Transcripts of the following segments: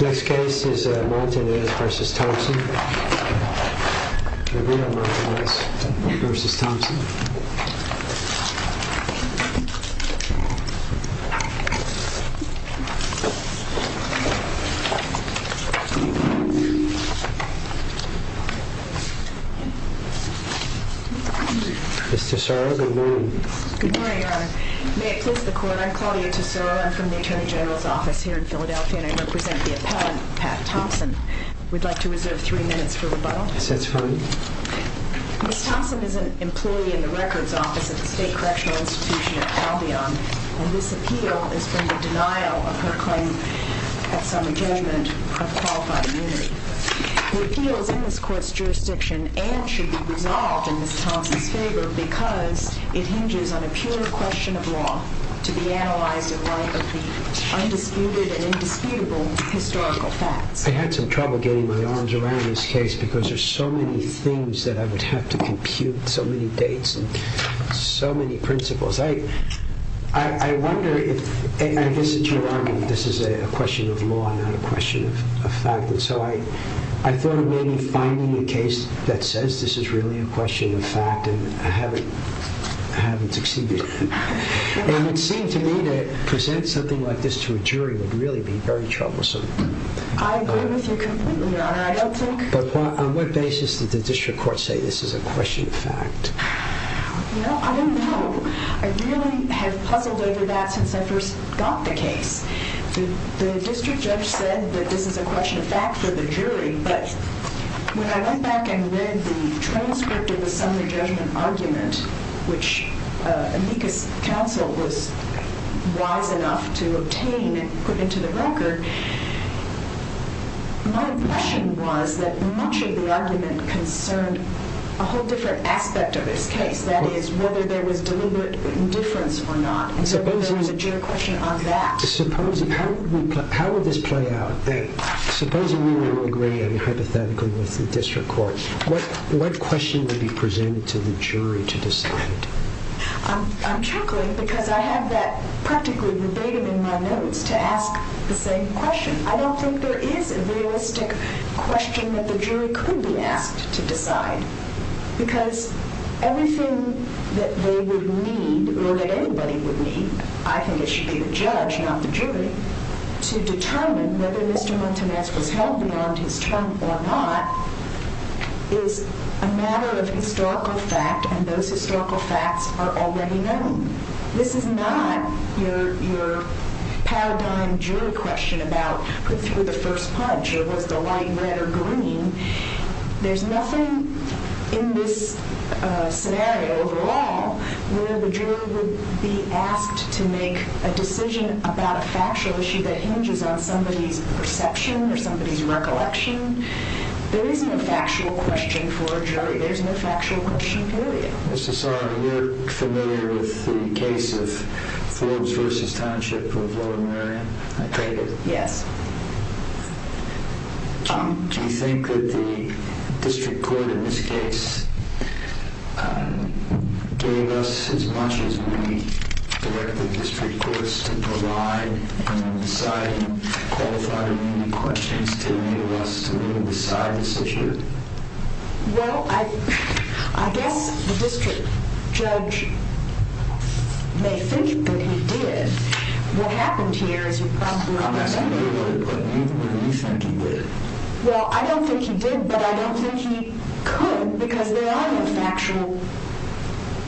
Next case is Montanezv.Thompson and we have Montanezv.Thompson. Mr. Saro, good morning. Good morning, Your Honor. May it please the Court, I'm Claudia Tesoro. I'm from the Attorney General's Office here in Philadelphia and I'm going to present the appellant, Pat Thompson. We'd like to reserve three minutes for rebuttal. Yes, that's fine. Ms. Thompson is an employee in the Records Office at the State Correctional Institution at Calbeon and this appeal is from the denial of her claim at summer judgment of qualified immunity. The appeal is in this Court's jurisdiction and should be resolved in Ms. Thompson's favor Ms. Thompson is an employee at the State Correctional Institution at Calbeon. I'm chuckling because I have that practically verbatim in my notes to ask the same question. I don't think there is a realistic question that the jury could be asked to decide because everything that they would need or that anybody would need, I think it should be the judge not the jury, to determine whether Mr. Montanezv was held beyond his term or not is a matter of historical fact and those historical facts are already known. This is not your paradigm jury question about who threw the first punch or was the light red or green. There's nothing in this scenario overall where the jury would be asked to make a decision about a factual issue that hinges on somebody's perception or somebody's recollection. There isn't a factual question for a jury, there's no factual question for the jury. Mr. Saar, are you familiar with the case of Forbes v. Township of Lower Marion? I take it. Yes. Do you think that the district court in this case gave us as much as we directed the district courts to provide and then decide and qualify the questions to enable us to really decide this issue? Well, I guess the district judge may think that he did. What happened here is you probably understand that. I'm asking you what you think he did. Well, I don't think he did, but I don't think he could because there are no factual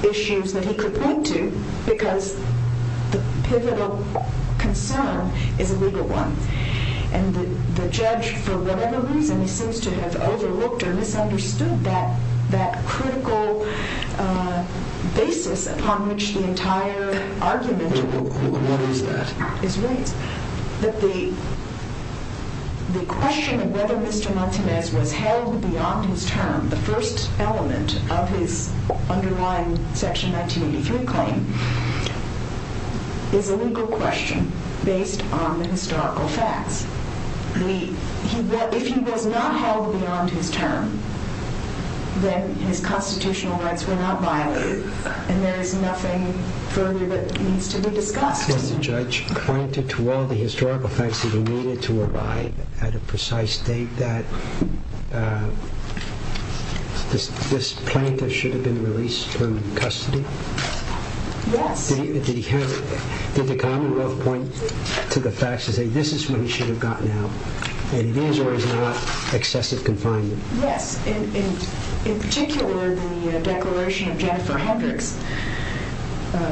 issues that he could point to because the pivotal concern is a legal one. And the judge, for whatever reason, he seems to have overlooked or misunderstood that critical basis upon which the entire argument is raised. What is that? That the question of whether Mr. Martinez was held beyond his term, the first element of his underlying Section 1983 claim, is a legal question based on the historical facts. If he was not held beyond his term, then his constitutional rights were not violated and there is nothing further that needs to be discussed. Has the judge pointed to all the historical facts that he needed to arrive at a precise date that this plaintiff should have been released from custody? Yes. Did the Commonwealth point to the facts to say this is what he should have gotten out and it is or is not excessive confinement? Yes. In particular, the declaration of Jennifer Hendricks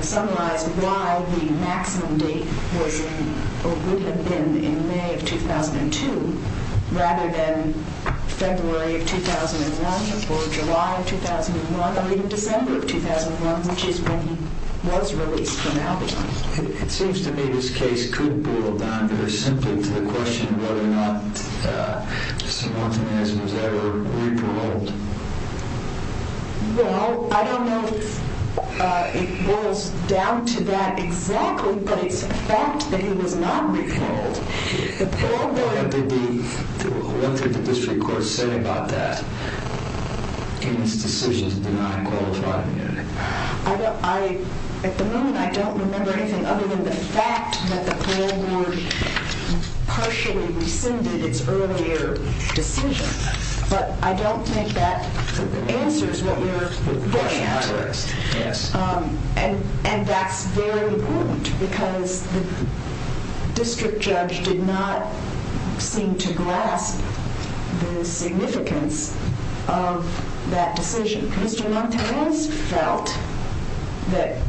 summarized why the maximum date would have been in May of 2002 rather than February of 2001 or July of 2001 or even December of 2001, which is when he was released from Albany. It seems to me this case could boil down very simply to the question of whether or not Mr. Martinez was held. Well, I don't know if it boils down to that exactly, but it's a fact that he was not repealed. What did the district court say about that in its decision to deny a qualified immunity? At the moment, I don't remember anything other than the fact that the parole board partially rescinded its earlier decision, but I don't think that answers what we're getting at. Yes. And that's very important because the district judge did not seem to grasp the significance of that decision. Mr. Martinez felt that,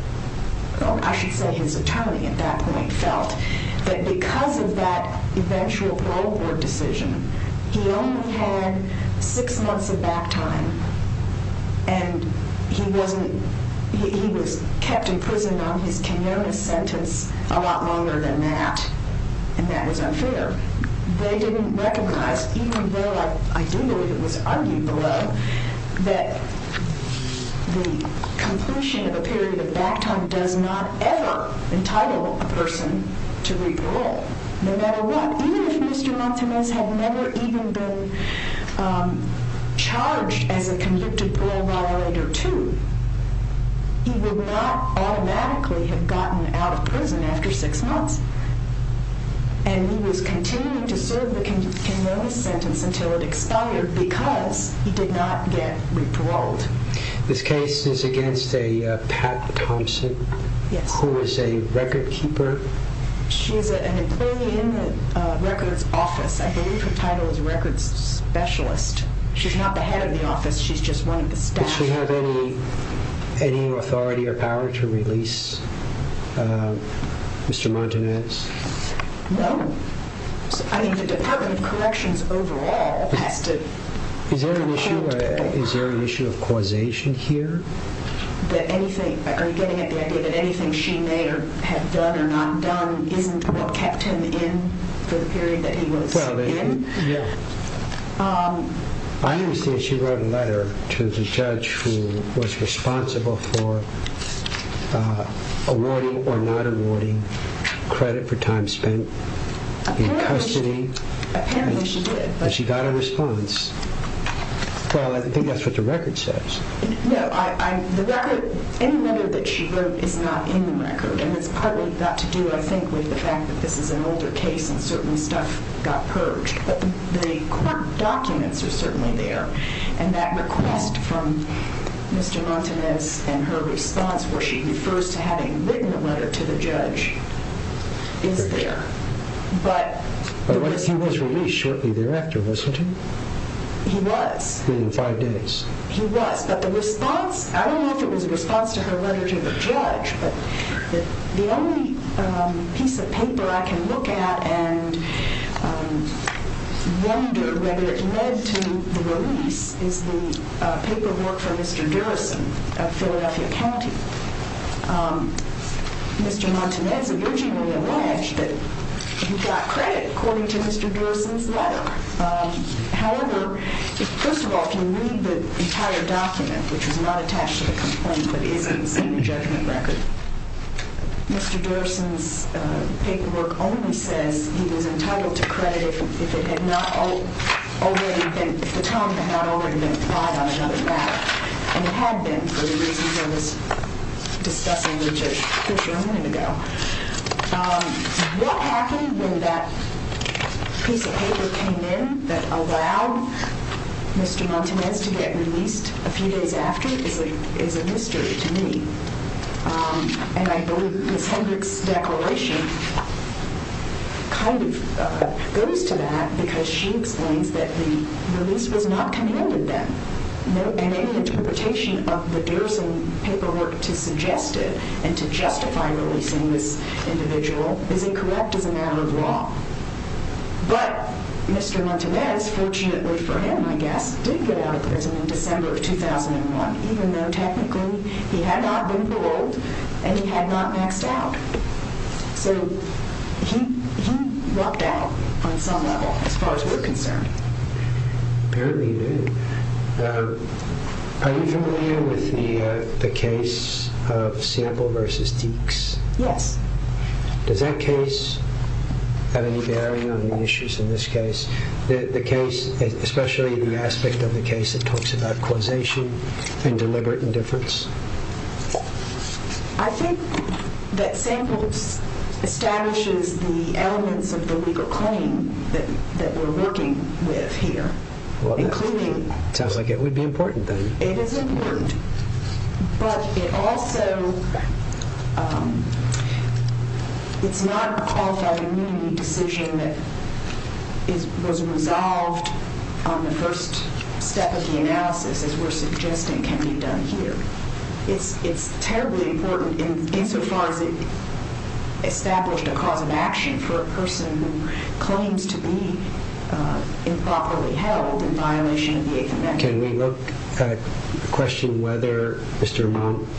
I should say his attorney at that point felt, that because of that eventual parole board decision, he only had six months of back time and he was kept in prison on his Kenyatta sentence a lot longer than that, and that was unfair. They didn't recognize, even though I do believe it was argued below, that the completion of a period of back time does not ever entitle a person to re-parole, no matter what. Even if Mr. Martinez had never even been charged as a convicted parole violator too, he would not automatically have gotten out of prison after six months, and he was continuing to serve the Kenyatta sentence until it expired because he did not get re-paroled. This case is against a Pat Thompson. Yes. Who is a record keeper. She is an employee in the records office. I believe her title is records specialist. She's not the head of the office, she's just one of the staff. Does she have any authority or power to release Mr. Martinez? No. I mean the Department of Corrections overall has to... Is there an issue of causation here? Are you getting at the idea that anything she may have done or not done isn't what kept him in for the period that he was in? I understand she wrote a letter to the judge who was responsible for awarding or not awarding credit for time spent in custody. Apparently she did. She got a response. I think that's what the record says. No, any letter that she wrote is not in the record, and it's partly got to do, I think, with the fact that this is an older case and certain stuff got purged. But the court documents are certainly there, and that request from Mr. Martinez and her response where she refers to having written a letter to the judge is there. But he was released shortly thereafter, wasn't he? He was. Within five days. He was. But the response... I don't know if it was a response to her letter to the judge, but the only piece of paper I can look at and wonder whether it led to the release is the paperwork from Mr. Durrison of Philadelphia County. Mr. Martinez originally alleged that he got credit according to Mr. Durrison's letter. However, first of all, if you read the entire document, which is not attached to the complaint but is in the same judgment record, Mr. Durrison's paperwork only says he was entitled to credit if it had not already been... if the time had not already been applied on another matter. And it had been for the reasons I was discussing with Judge Fisher a minute ago. What happened when that piece of paper came in that allowed Mr. Martinez to get released a few days after is a mystery to me. And I believe Ms. Hendrick's declaration kind of goes to that because she explains that the release was not commanded then. And any interpretation of the Durrison paperwork to suggest it and to justify releasing this individual is incorrect as a matter of law. But Mr. Martinez, fortunately for him, I guess, did get out of prison in December of 2001 even though technically he had not been paroled and he had not maxed out. So he lucked out on some level as far as we're concerned. Apparently he did. Are you familiar with the case of Sample v. Deeks? Yes. Does that case have any bearing on the issues in this case? The case, especially the aspect of the case that talks about causation and deliberate indifference? I think that Sample establishes the elements of the legal claim that we're working with here. Sounds like it would be important then. It is important. But it's not a qualified immunity decision that was resolved on the first step of the analysis as we're suggesting can be done here. It's terribly important insofar as it established a cause of action for a person who claims to be improperly held in violation of the Eighth Amendment. Can we look at the question whether Mr.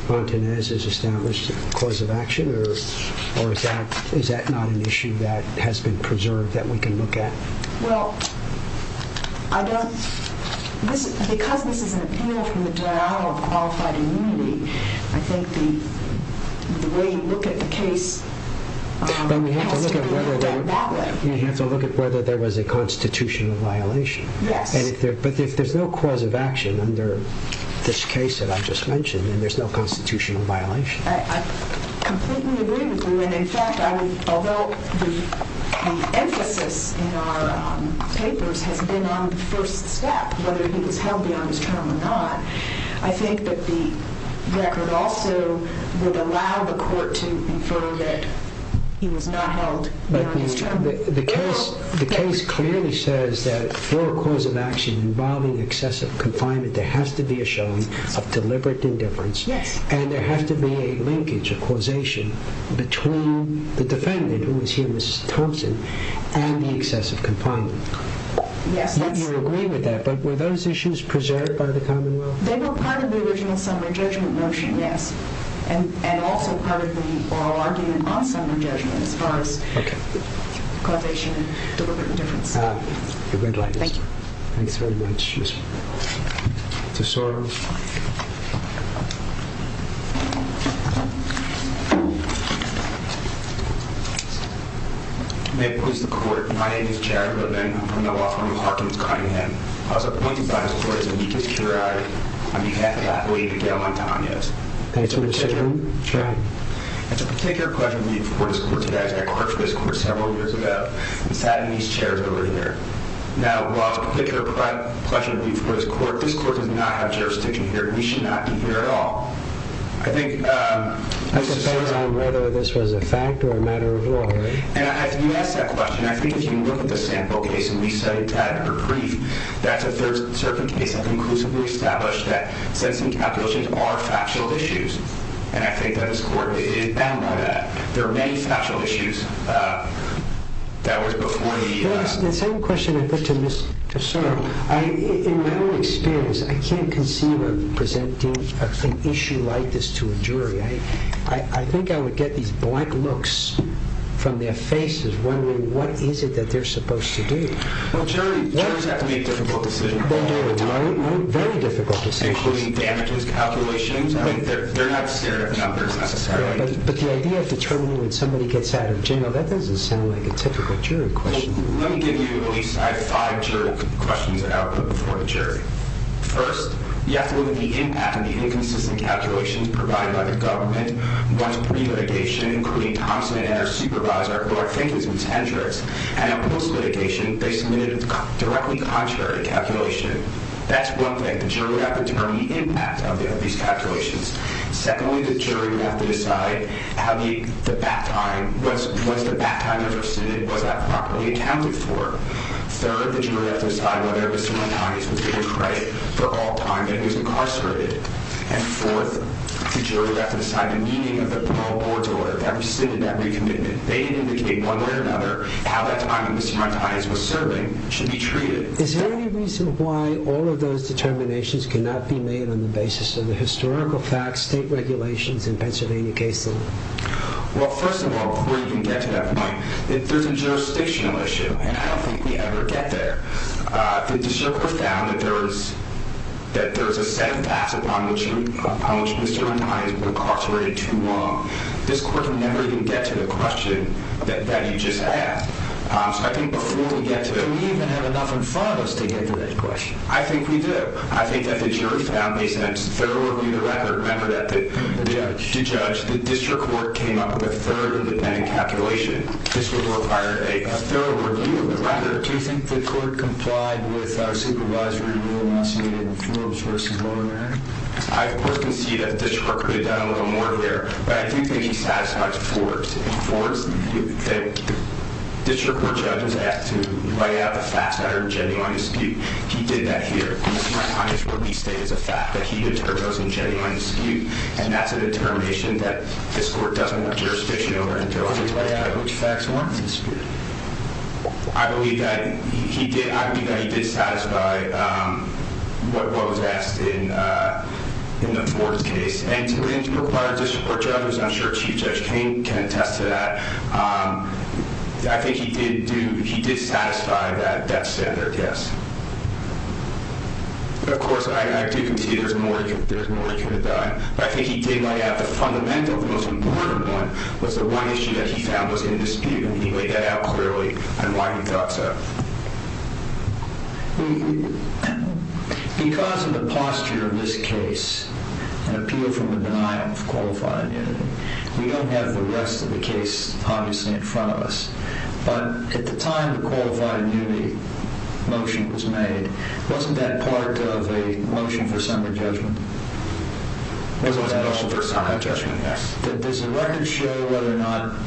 Martinez has established a cause of action? Or is that not an issue that has been preserved that we can look at? Well, because this is an appeal from the denial of qualified immunity, I think the way you look at the case has to be looked at that way. You have to look at whether there was a constitutional violation. Yes. But if there's no cause of action under this case that I just mentioned, then there's no constitutional violation. I completely agree with you. In fact, although the emphasis in our papers has been on the first step, whether he was held beyond his term or not, I think that the record also would allow the court to infer that he was not held beyond his term. The case clearly says that for a cause of action involving excessive confinement, there has to be a showing of deliberate indifference, and there has to be a linkage, a causation, between the defendant, who was here, Mrs. Thompson, and the excessive confinement. Yes, that's correct. You agree with that, but were those issues preserved by the Commonwealth? They were part of the original summary judgment motion, yes, and also part of the oral argument on summary judgment as far as causation and deliberate indifference. You're very kind. Thank you. Thanks very much. Mr. Soros. May it please the court, my name is Jared Levin. I'm from the law firm of Harkins Cunningham. I was appointed by this court as the weakest juror on behalf of Athlete Miguel Antanez. Thank you, Mr. Chairman. It's a particular pleasure for me to report this court to you guys. I clerked for this court several years ago and sat in these chairs over here. Now, while it's a particular pleasure for me to report this court, this court does not have jurisdiction here, and we should not be here at all. I think— That depends on whether this was a fact or a matter of law, right? And as you asked that question, I think if you look at the sample case, and we studied that in her brief, that's a third-circuit case that conclusively established that sentencing calculations are factual issues, and I think that this court is bound by that. There are many factual issues that were before the— The same question I put to Ms. DeSoto. In my own experience, I can't conceive of presenting an issue like this to a jury. I think I would get these blank looks from their faces wondering what is it that they're supposed to do. Well, jurors have to make difficult decisions all the time. Very difficult decisions. Including damages calculations. They're not scared of numbers, necessarily. But the idea of determining when somebody gets out of jail, that doesn't sound like a typical jury question. Well, let me give you—at least I have five jury questions that I'll put before the jury. First, you have to look at the impact of the inconsistent calculations provided by the government. Once pre-litigation, including Thompson and Enner's supervisor, who I think is Ms. Hendricks, and now post-litigation, they submitted a directly contrary calculation. That's one thing. The jury would have to determine the impact of these calculations. Secondly, the jury would have to decide how the—the bat time—was the bat time ever submitted? Was that properly accounted for? Third, the jury would have to decide whether Mr. Martinez was given credit for all time that he was incarcerated. And fourth, the jury would have to decide the meaning of the parole board's order that rescinded that recommitment. They indicate, one way or another, how that time that Mr. Martinez was serving should be treated. Is there any reason why all of those determinations cannot be made on the basis of the historical facts, state regulations, and Pennsylvania case law? Well, first of all, before you can get to that point, there's a jurisdictional issue, and I don't think we ever get there. The district has found that there is—that there is a set of facts upon which Mr. Martinez was incarcerated too long. This court can never even get to the question that you just asked. Do we even have enough in front of us to get to that question? I think we do. I think that the jury found, based on its thorough review of the record, remember that the judge, the district court, came up with a third independent calculation. This would require a thorough review of the record. Do you think the court complied with our supervisory rule last year in Forbes v. Montgomery? I, of course, concede that the district court could have done a little more there, but I do think he satisfies Forbes. In Forbes, the district court judge was asked to lay out the facts that are in genuine dispute. He did that here. Mr. Martinez would be stated as a fact that he determined those in genuine dispute, and that's a determination that this court doesn't want jurisdiction over until it's laid out. Which facts weren't in dispute? I believe that he did—I believe that he did satisfy what was asked in the Forbes case. And to require a district court judge, as I'm sure Chief Judge King can attest to that, I think he did do—he did satisfy that standard, yes. Of course, I do concede there's more he could have done. But I think he did lay out the fundamental, the most important one, was the one issue that he found was in dispute, and he laid that out clearly, and why he thought so. Because of the posture of this case, an appeal from the denial of qualified immunity, we don't have the rest of the case, obviously, in front of us. But at the time the qualified immunity motion was made, wasn't that part of a motion for summary judgment? It was a motion for summary judgment, yes. But does the record show whether or not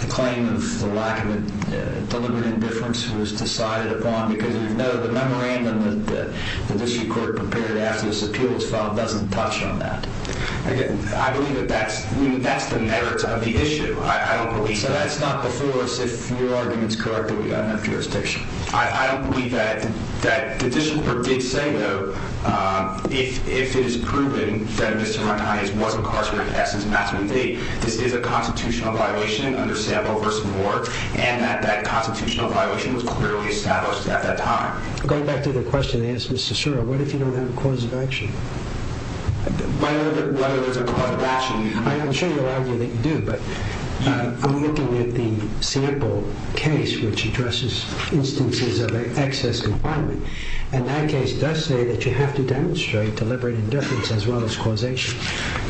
the claim of the lack of a deliberate indifference was decided upon? Because we know the memorandum that the district court prepared after this appeal was filed doesn't touch on that. Again, I believe that that's the merits of the issue. I don't believe that. So that's not before us if your argument's correct that we've got enough jurisdiction. I don't believe that. The district court did say, though, if it is proven that Mr. Ron Hines was incarcerated, that's his maximum date, this is a constitutional violation under Sample v. Moore, and that that constitutional violation was clearly established at that time. Going back to the question they asked Mr. Sura, what if you don't have a cause of action? Whether there's a cause of action... I'm sure you'll argue that you do. I'm looking at the Sample case, which addresses instances of excess confinement, and that case does say that you have to demonstrate deliberate indifference as well as causation.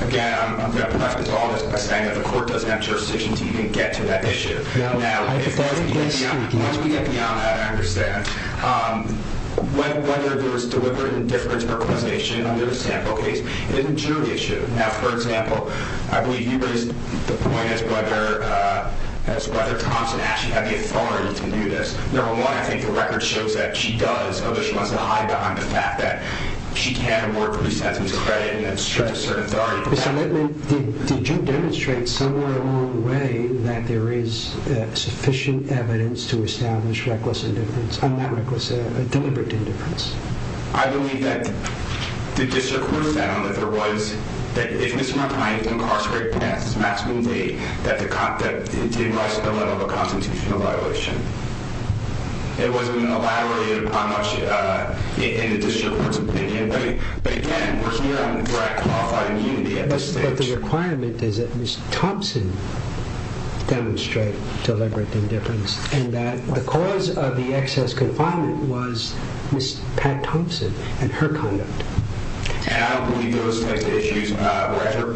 Again, I'm going to preface all this by saying that the court doesn't have jurisdiction to even get to that issue. Now, hypothetically speaking... When we get beyond that, I understand. Whether there was deliberate indifference or causation under the Sample case, it isn't your issue. Now, for example, I believe you raised the point as to whether Thompson actually had the authority to do this. Number one, I think the record shows that she does, although she wants to hide behind the fact that she can't award police estimates of credit, and it's just a certain authority. Did you demonstrate somewhere along the way that there is sufficient evidence to establish deliberate indifference? I believe that the district court found that there was... that if Mr. McIntyre incarcerated past his maximum date, that it did rise to the level of a constitutional violation. It wasn't an alliterative in the district court's opinion. But again, we're here on the threat of qualified immunity at this stage. But the requirement is that Ms. Thompson demonstrate deliberate indifference, and that the cause of the excess confinement was Ms. Pat Thompson and her conduct. And I don't believe those types of issues were ever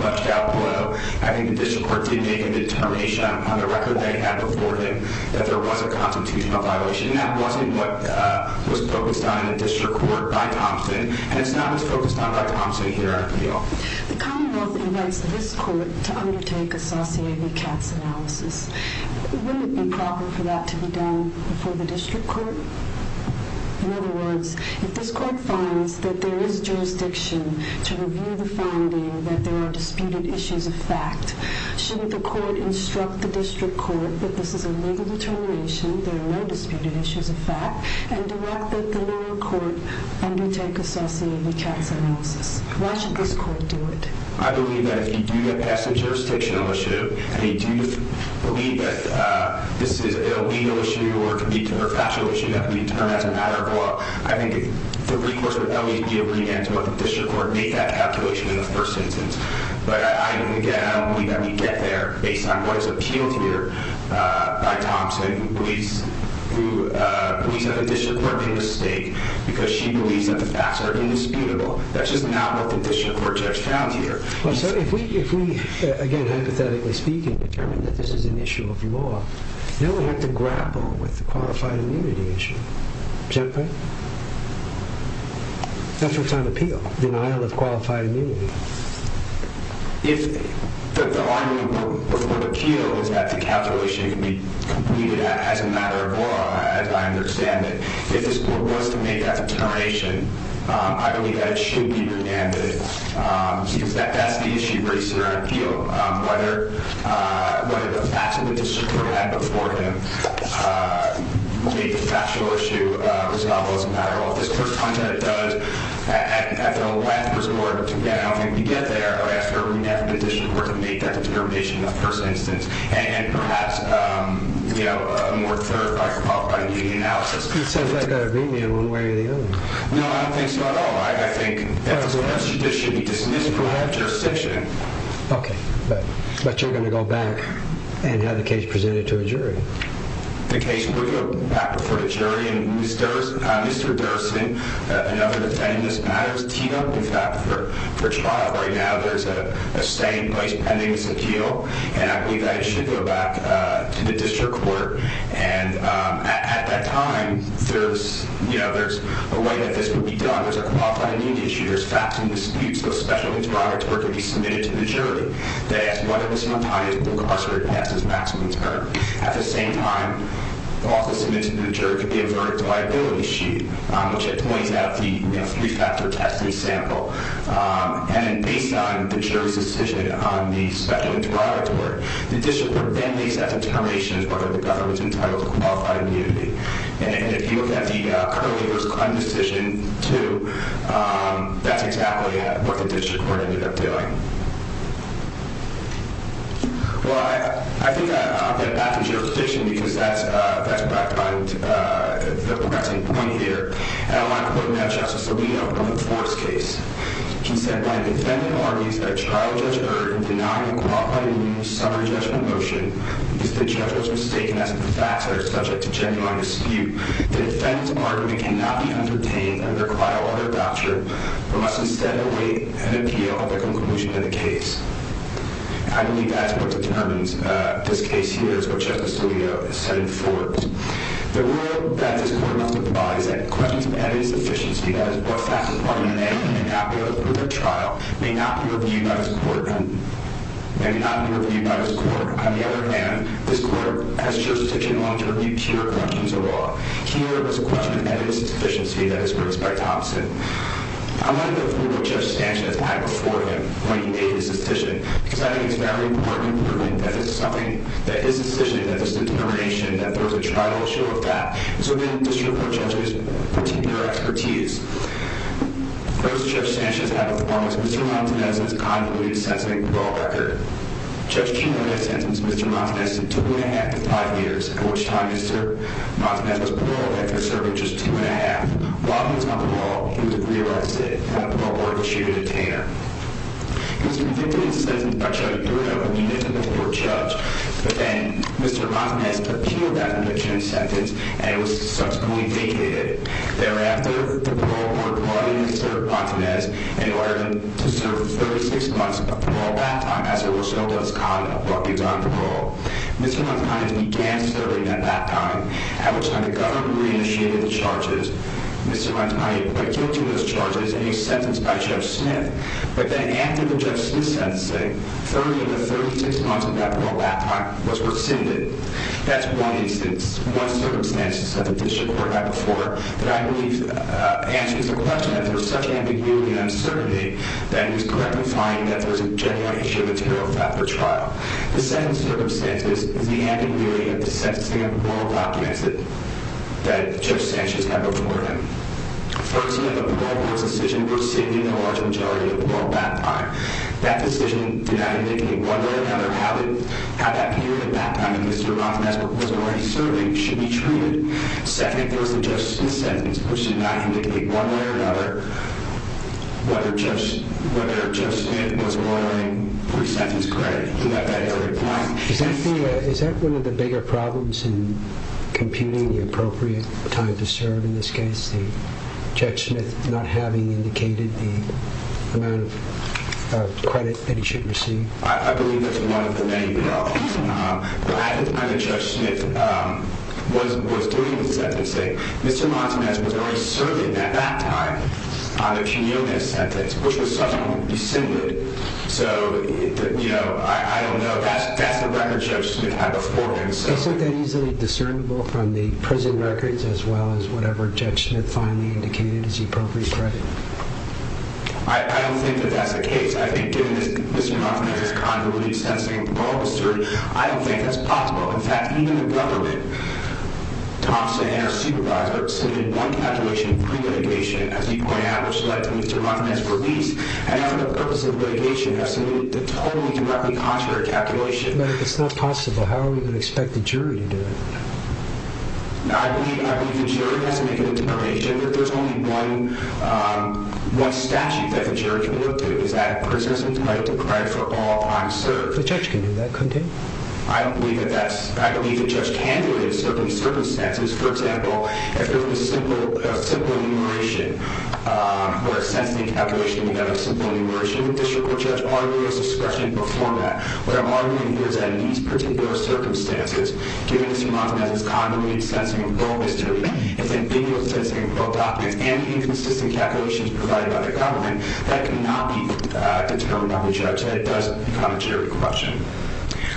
flushed out below. I think the district court did make a determination on the record they had before them that there was a constitutional violation, and that wasn't what was focused on in the district court by Thompson, and it's not as focused on by Thompson here on appeal. The Commonwealth invites this court to undertake a Saucier v. Katz analysis. Wouldn't it be proper for that to be done before the district court? In other words, if this court finds that there is jurisdiction to review the finding that there are disputed issues of fact, shouldn't the court instruct the district court that this is a legal determination, there are no disputed issues of fact, and direct that the lower court undertake a Saucier v. Katz analysis? Why should this court do it? I believe that if you do get past the jurisdictional issue and you do believe that this is a legal issue or could be a professional issue that could be termed as a matter of law, I think the recourse would always be a remand to what the district court made that calculation in the first instance. But again, I don't believe that we get there based on what is appealed here by Thompson, who believes that the district court made a mistake because she believes that the facts are indisputable. That's just not what the district court judge found here. If we, again, hypothetically speaking, determine that this is an issue of law, then we have to grapple with the qualified immunity issue. Is that correct? That's what's on appeal, denial of qualified immunity. If the argument before the appeal is that the calculation can be completed as a matter of law, as I understand it, if this court was to make that determination, I believe that it should be remanded because that's the issue that's on appeal, whether the facts of the district court had before him make the factual issue responsible or not. Well, if this court finds that it does, I don't think we get there after a remand from the district court to make that determination in the first instance and perhaps more clarify qualified immunity analysis. It sounds like a remand one way or the other. No, I don't think so at all. I think this should be dismissed from our jurisdiction. Okay. But you're going to go back and have the case presented to a jury. The case will go back before the jury. Mr. Durston, another detainee in this matter is Tito. In fact, for trial right now, there's a staying place pending this appeal, and I believe that it should go back to the district court. And at that time, there's a way that this would be done. There's a qualified immunity issue. There's facts and disputes. The special interrogatory could be submitted to the jury. They ask whether Mr. Montaigne has been incarcerated and has his maximum term. At the same time, the lawsuit submitted to the jury could be a verdict liability sheet, which it points out the three-factor testing sample. And based on the jury's decision on the special interrogatory, the district court then makes that determination as to whether the government's entitled to qualified immunity. And if you look at the current waiver's crime decision, too, that's exactly what the district court ended up doing. Well, I think I'll get back to jurisdiction because that's where I find the pressing point here. And I want to point now to Justice Alito on the Forrest case. He said, I believe that's what determines this case here is what Justice Alito has said in Forrest. The rule that this court must abide by is that questions of evidence of deficiency, that is, what factor, pardon the name, may not be able to prove the trial, may not be reviewed by this court, and may not be reviewed by this court. On the other hand, this court has jurisdiction in Long-Term Review to review corrections of law. Here, it was a question of evidence of deficiency that was raised by Thompson. I want to go through what Judge Sanchez had before him when he made his decision because I think it's very important to prove that this is something that his decision, that this is a determination, that there was a trial to show of that. And so then the district court judges would continue their expertise. First, Judge Sanchez had a performance. Mr. Montanez had a convoluted sentencing and parole record. Judge Chino had sentenced Mr. Montanez to two and a half to five years, at which time Mr. Montanez was paroled after serving just two and a half. While he was on parole, he was re-arrested. After parole, he was issued a detainer. He was convicted of sentencing by Judge Duro, a municipal court judge. But then Mr. Montanez appealed that conviction and sentence, and it was subsequently vacated. Thereafter, the parole court brought in Mr. Montanez and ordered him to serve 36 months of parole that time, as it were, so that his conduct would be done on parole. Mr. Montanez began serving at that time, at which time the government re-initiated the charges. Mr. Montanez was put guilty of those charges and he was sentenced by Judge Smith. But then, after the Judge Smith sentencing, 30 of the 36 months of that parole that time was rescinded. That's one instance, one circumstance at the district court I before, that I believe answers the question that there is such ambiguity and uncertainty that it is correct to find that there is a genuine issue of a terror factor trial. The second circumstance is the ambiguity of the sentencing of the parole documents that Judge Sanchez had before him. First, the parole court's decision rescinded a large majority of parole that time. That decision did not indicate one way or another how that period of that time that Mr. Montanez was already serving should be treated. Second, there was the Judge Smith sentence, which did not indicate one way or another whether Judge Smith was warranting pre-sentence credit. Is that one of the bigger problems in computing the appropriate time to serve in this case? Is the Judge Smith not having indicated the amount of credit that he should receive? I believe that's one of the main problems. I think Judge Smith was doing the sentencing. Mr. Montanez was already serving at that time on the cumulative sentence, which was suddenly rescinded. So, you know, I don't know. That's the record Judge Smith had before him. Isn't that easily discernible from the prison records as well as whatever Judge Smith finally indicated as the appropriate credit? I don't think that that's the case. I think given that Mr. Montanez is contrary to the sentencing of the parole officer, I don't think that's possible. In fact, even the government, Thompson and her supervisor, submitted one calculation of pre-relegation, as you point out, which led to Mr. Montanez's release. And now for the purpose of relegation, have submitted the totally directly contrary calculation. But if it's not possible, how are we going to expect the jury to do it? I believe the jury has to make a determination. If there's only one statute that the jury can look to, it's that a prisoner is entitled to credit for all time served. The Judge can do that, couldn't he? I believe that Judge can do it in certain circumstances. For example, if there was a simple enumeration, where a sentencing calculation would have a simple enumeration, and the district court judge argued his discretion before that, what I'm arguing here is that in these particular circumstances, given that Mr. Montanez is contrary to the sentencing of the parole officer, his ambiguous sentencing of both documents and the inconsistent calculations provided by the government, that cannot be determined by the judge. That does become a jury question.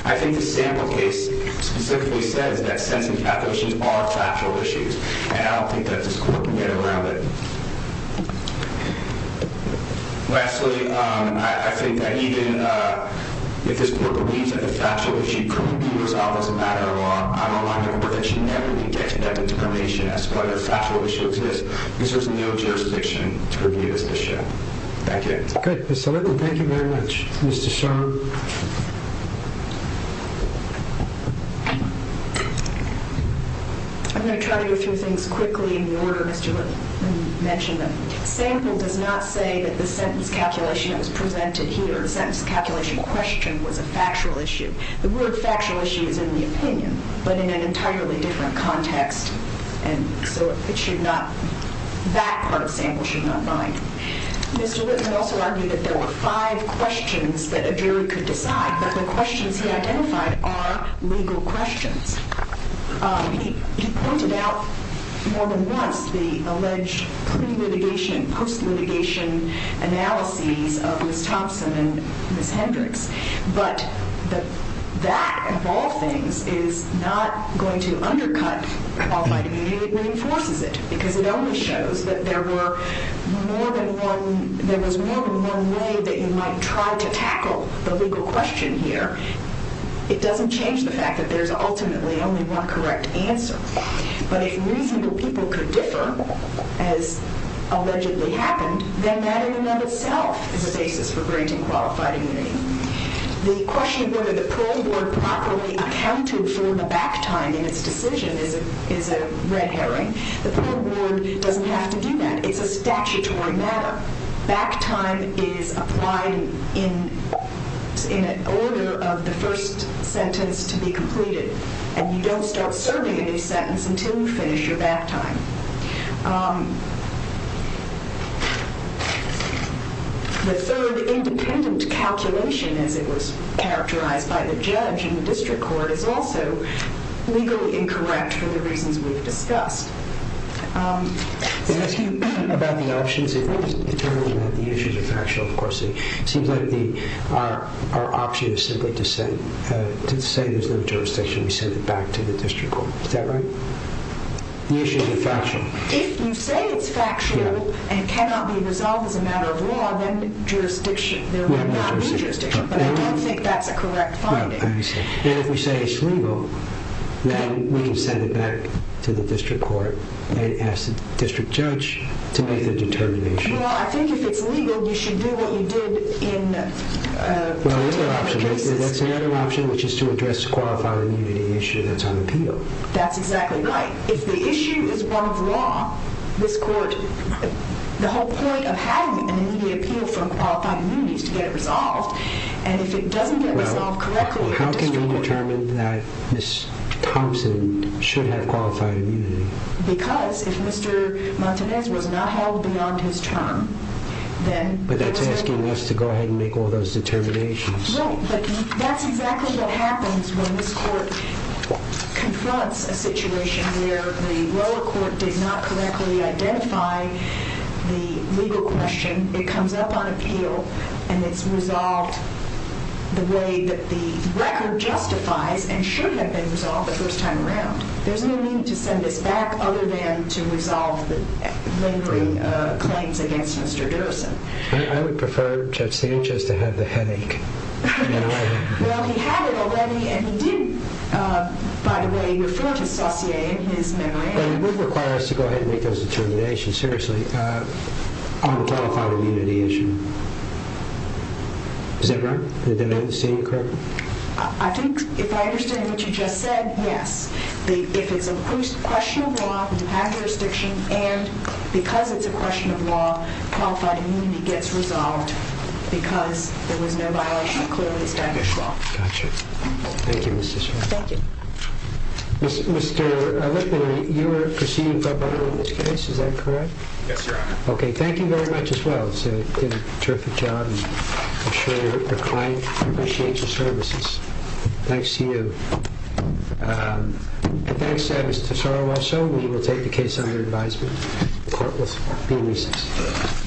I think the sample case specifically says that sentencing calculations are factual issues, and I don't think that this court can get around it. Lastly, I think that even if this court believes that the factual issue could be resolved as a matter of law, I'm aligned with the court that should never be taken up into cremation as to whether the factual issue exists, because there's no jurisdiction to review this issue. Thank you. Thank you very much, Mr. Sherman. I'm going to try to go through things quickly in the order, Mr. Lipp. Let me mention them. Sample does not say that the sentence calculation that was presented here, the sentence calculation question, was a factual issue. The word factual issue is in the opinion, but in an entirely different context, and so it should not, that part of sample should not bind. Mr. Lipp had also argued that there were five questions that a jury could decide, but the questions he identified are legal questions. He pointed out more than once the alleged pre-litigation and post-litigation analyses of Ms. Thompson and Ms. Hendricks, but that, of all things, is not going to undercut qualified immunity. It reinforces it, because it only shows that there was more than one way that you might try to tackle the legal question here. It doesn't change the fact that there's ultimately only one correct answer, but if reasonable people could differ, as allegedly happened, then that in and of itself is a basis for granting qualified immunity. The question of whether the parole board properly accounted for the back time in its decision is a red herring. The parole board doesn't have to do that. It's a statutory matter. Back time is applied in order of the first sentence to be completed, and you don't start serving a new sentence until you finish your back time. The third independent calculation, as it was characterized by the judge in the district court, is also legally incorrect for the reasons we've discussed. I'm asking about the options. If we determine that the issues are factual, of course, it seems like our option is simply to say there's no jurisdiction and we send it back to the district court. Is that right? The issues are factual. If you say it's factual and cannot be resolved as a matter of law, then there would not be jurisdiction, but I don't think that's a correct finding. If we say it's legal, then we can send it back to the district court and ask the district judge to make the determination. Well, I think if it's legal, you should do what you did in... Well, that's another option, which is to address the qualified immunity issue that's on appeal. That's exactly right. If the issue is one of law, the whole point of having an immediate appeal for qualified immunity is to get it resolved, and if it doesn't get resolved correctly... How can we determine that Ms. Thompson should have qualified immunity? Because if Mr. Martinez was not held beyond his term, then... But that's asking us to go ahead and make all those determinations. Right, but that's exactly what happens when this court confronts a situation where the lower court did not correctly identify the legal question. It comes up on appeal, and it's resolved the way that the record justifies and should have been resolved the first time around. There's no need to send this back other than to resolve the lingering claims against Mr. Derrison. I would prefer Judge Sanchez to have the headache. Well, he had it already, and he did, by the way, refer to Saucier in his memorandum. It would require us to go ahead and make those determinations, seriously, on the qualified immunity issue. Is that right? Did I understand you correctly? I think, if I understand what you just said, yes. If it's a question of law, you have jurisdiction, and because it's a question of law, qualified immunity gets resolved because there was no violation of clearly established law. Gotcha. Thank you, Ms. Deschamps. Thank you. Mr. O'Loughlin, you were perceived by both of them in this case, is that correct? Yes, Your Honor. Okay. Thank you very much as well. You did a terrific job. I'm sure the client appreciates your services. Thanks to you. Thanks to Ms. Tesoro also. We will take the case under advisement. The court will be in recess. Thank you.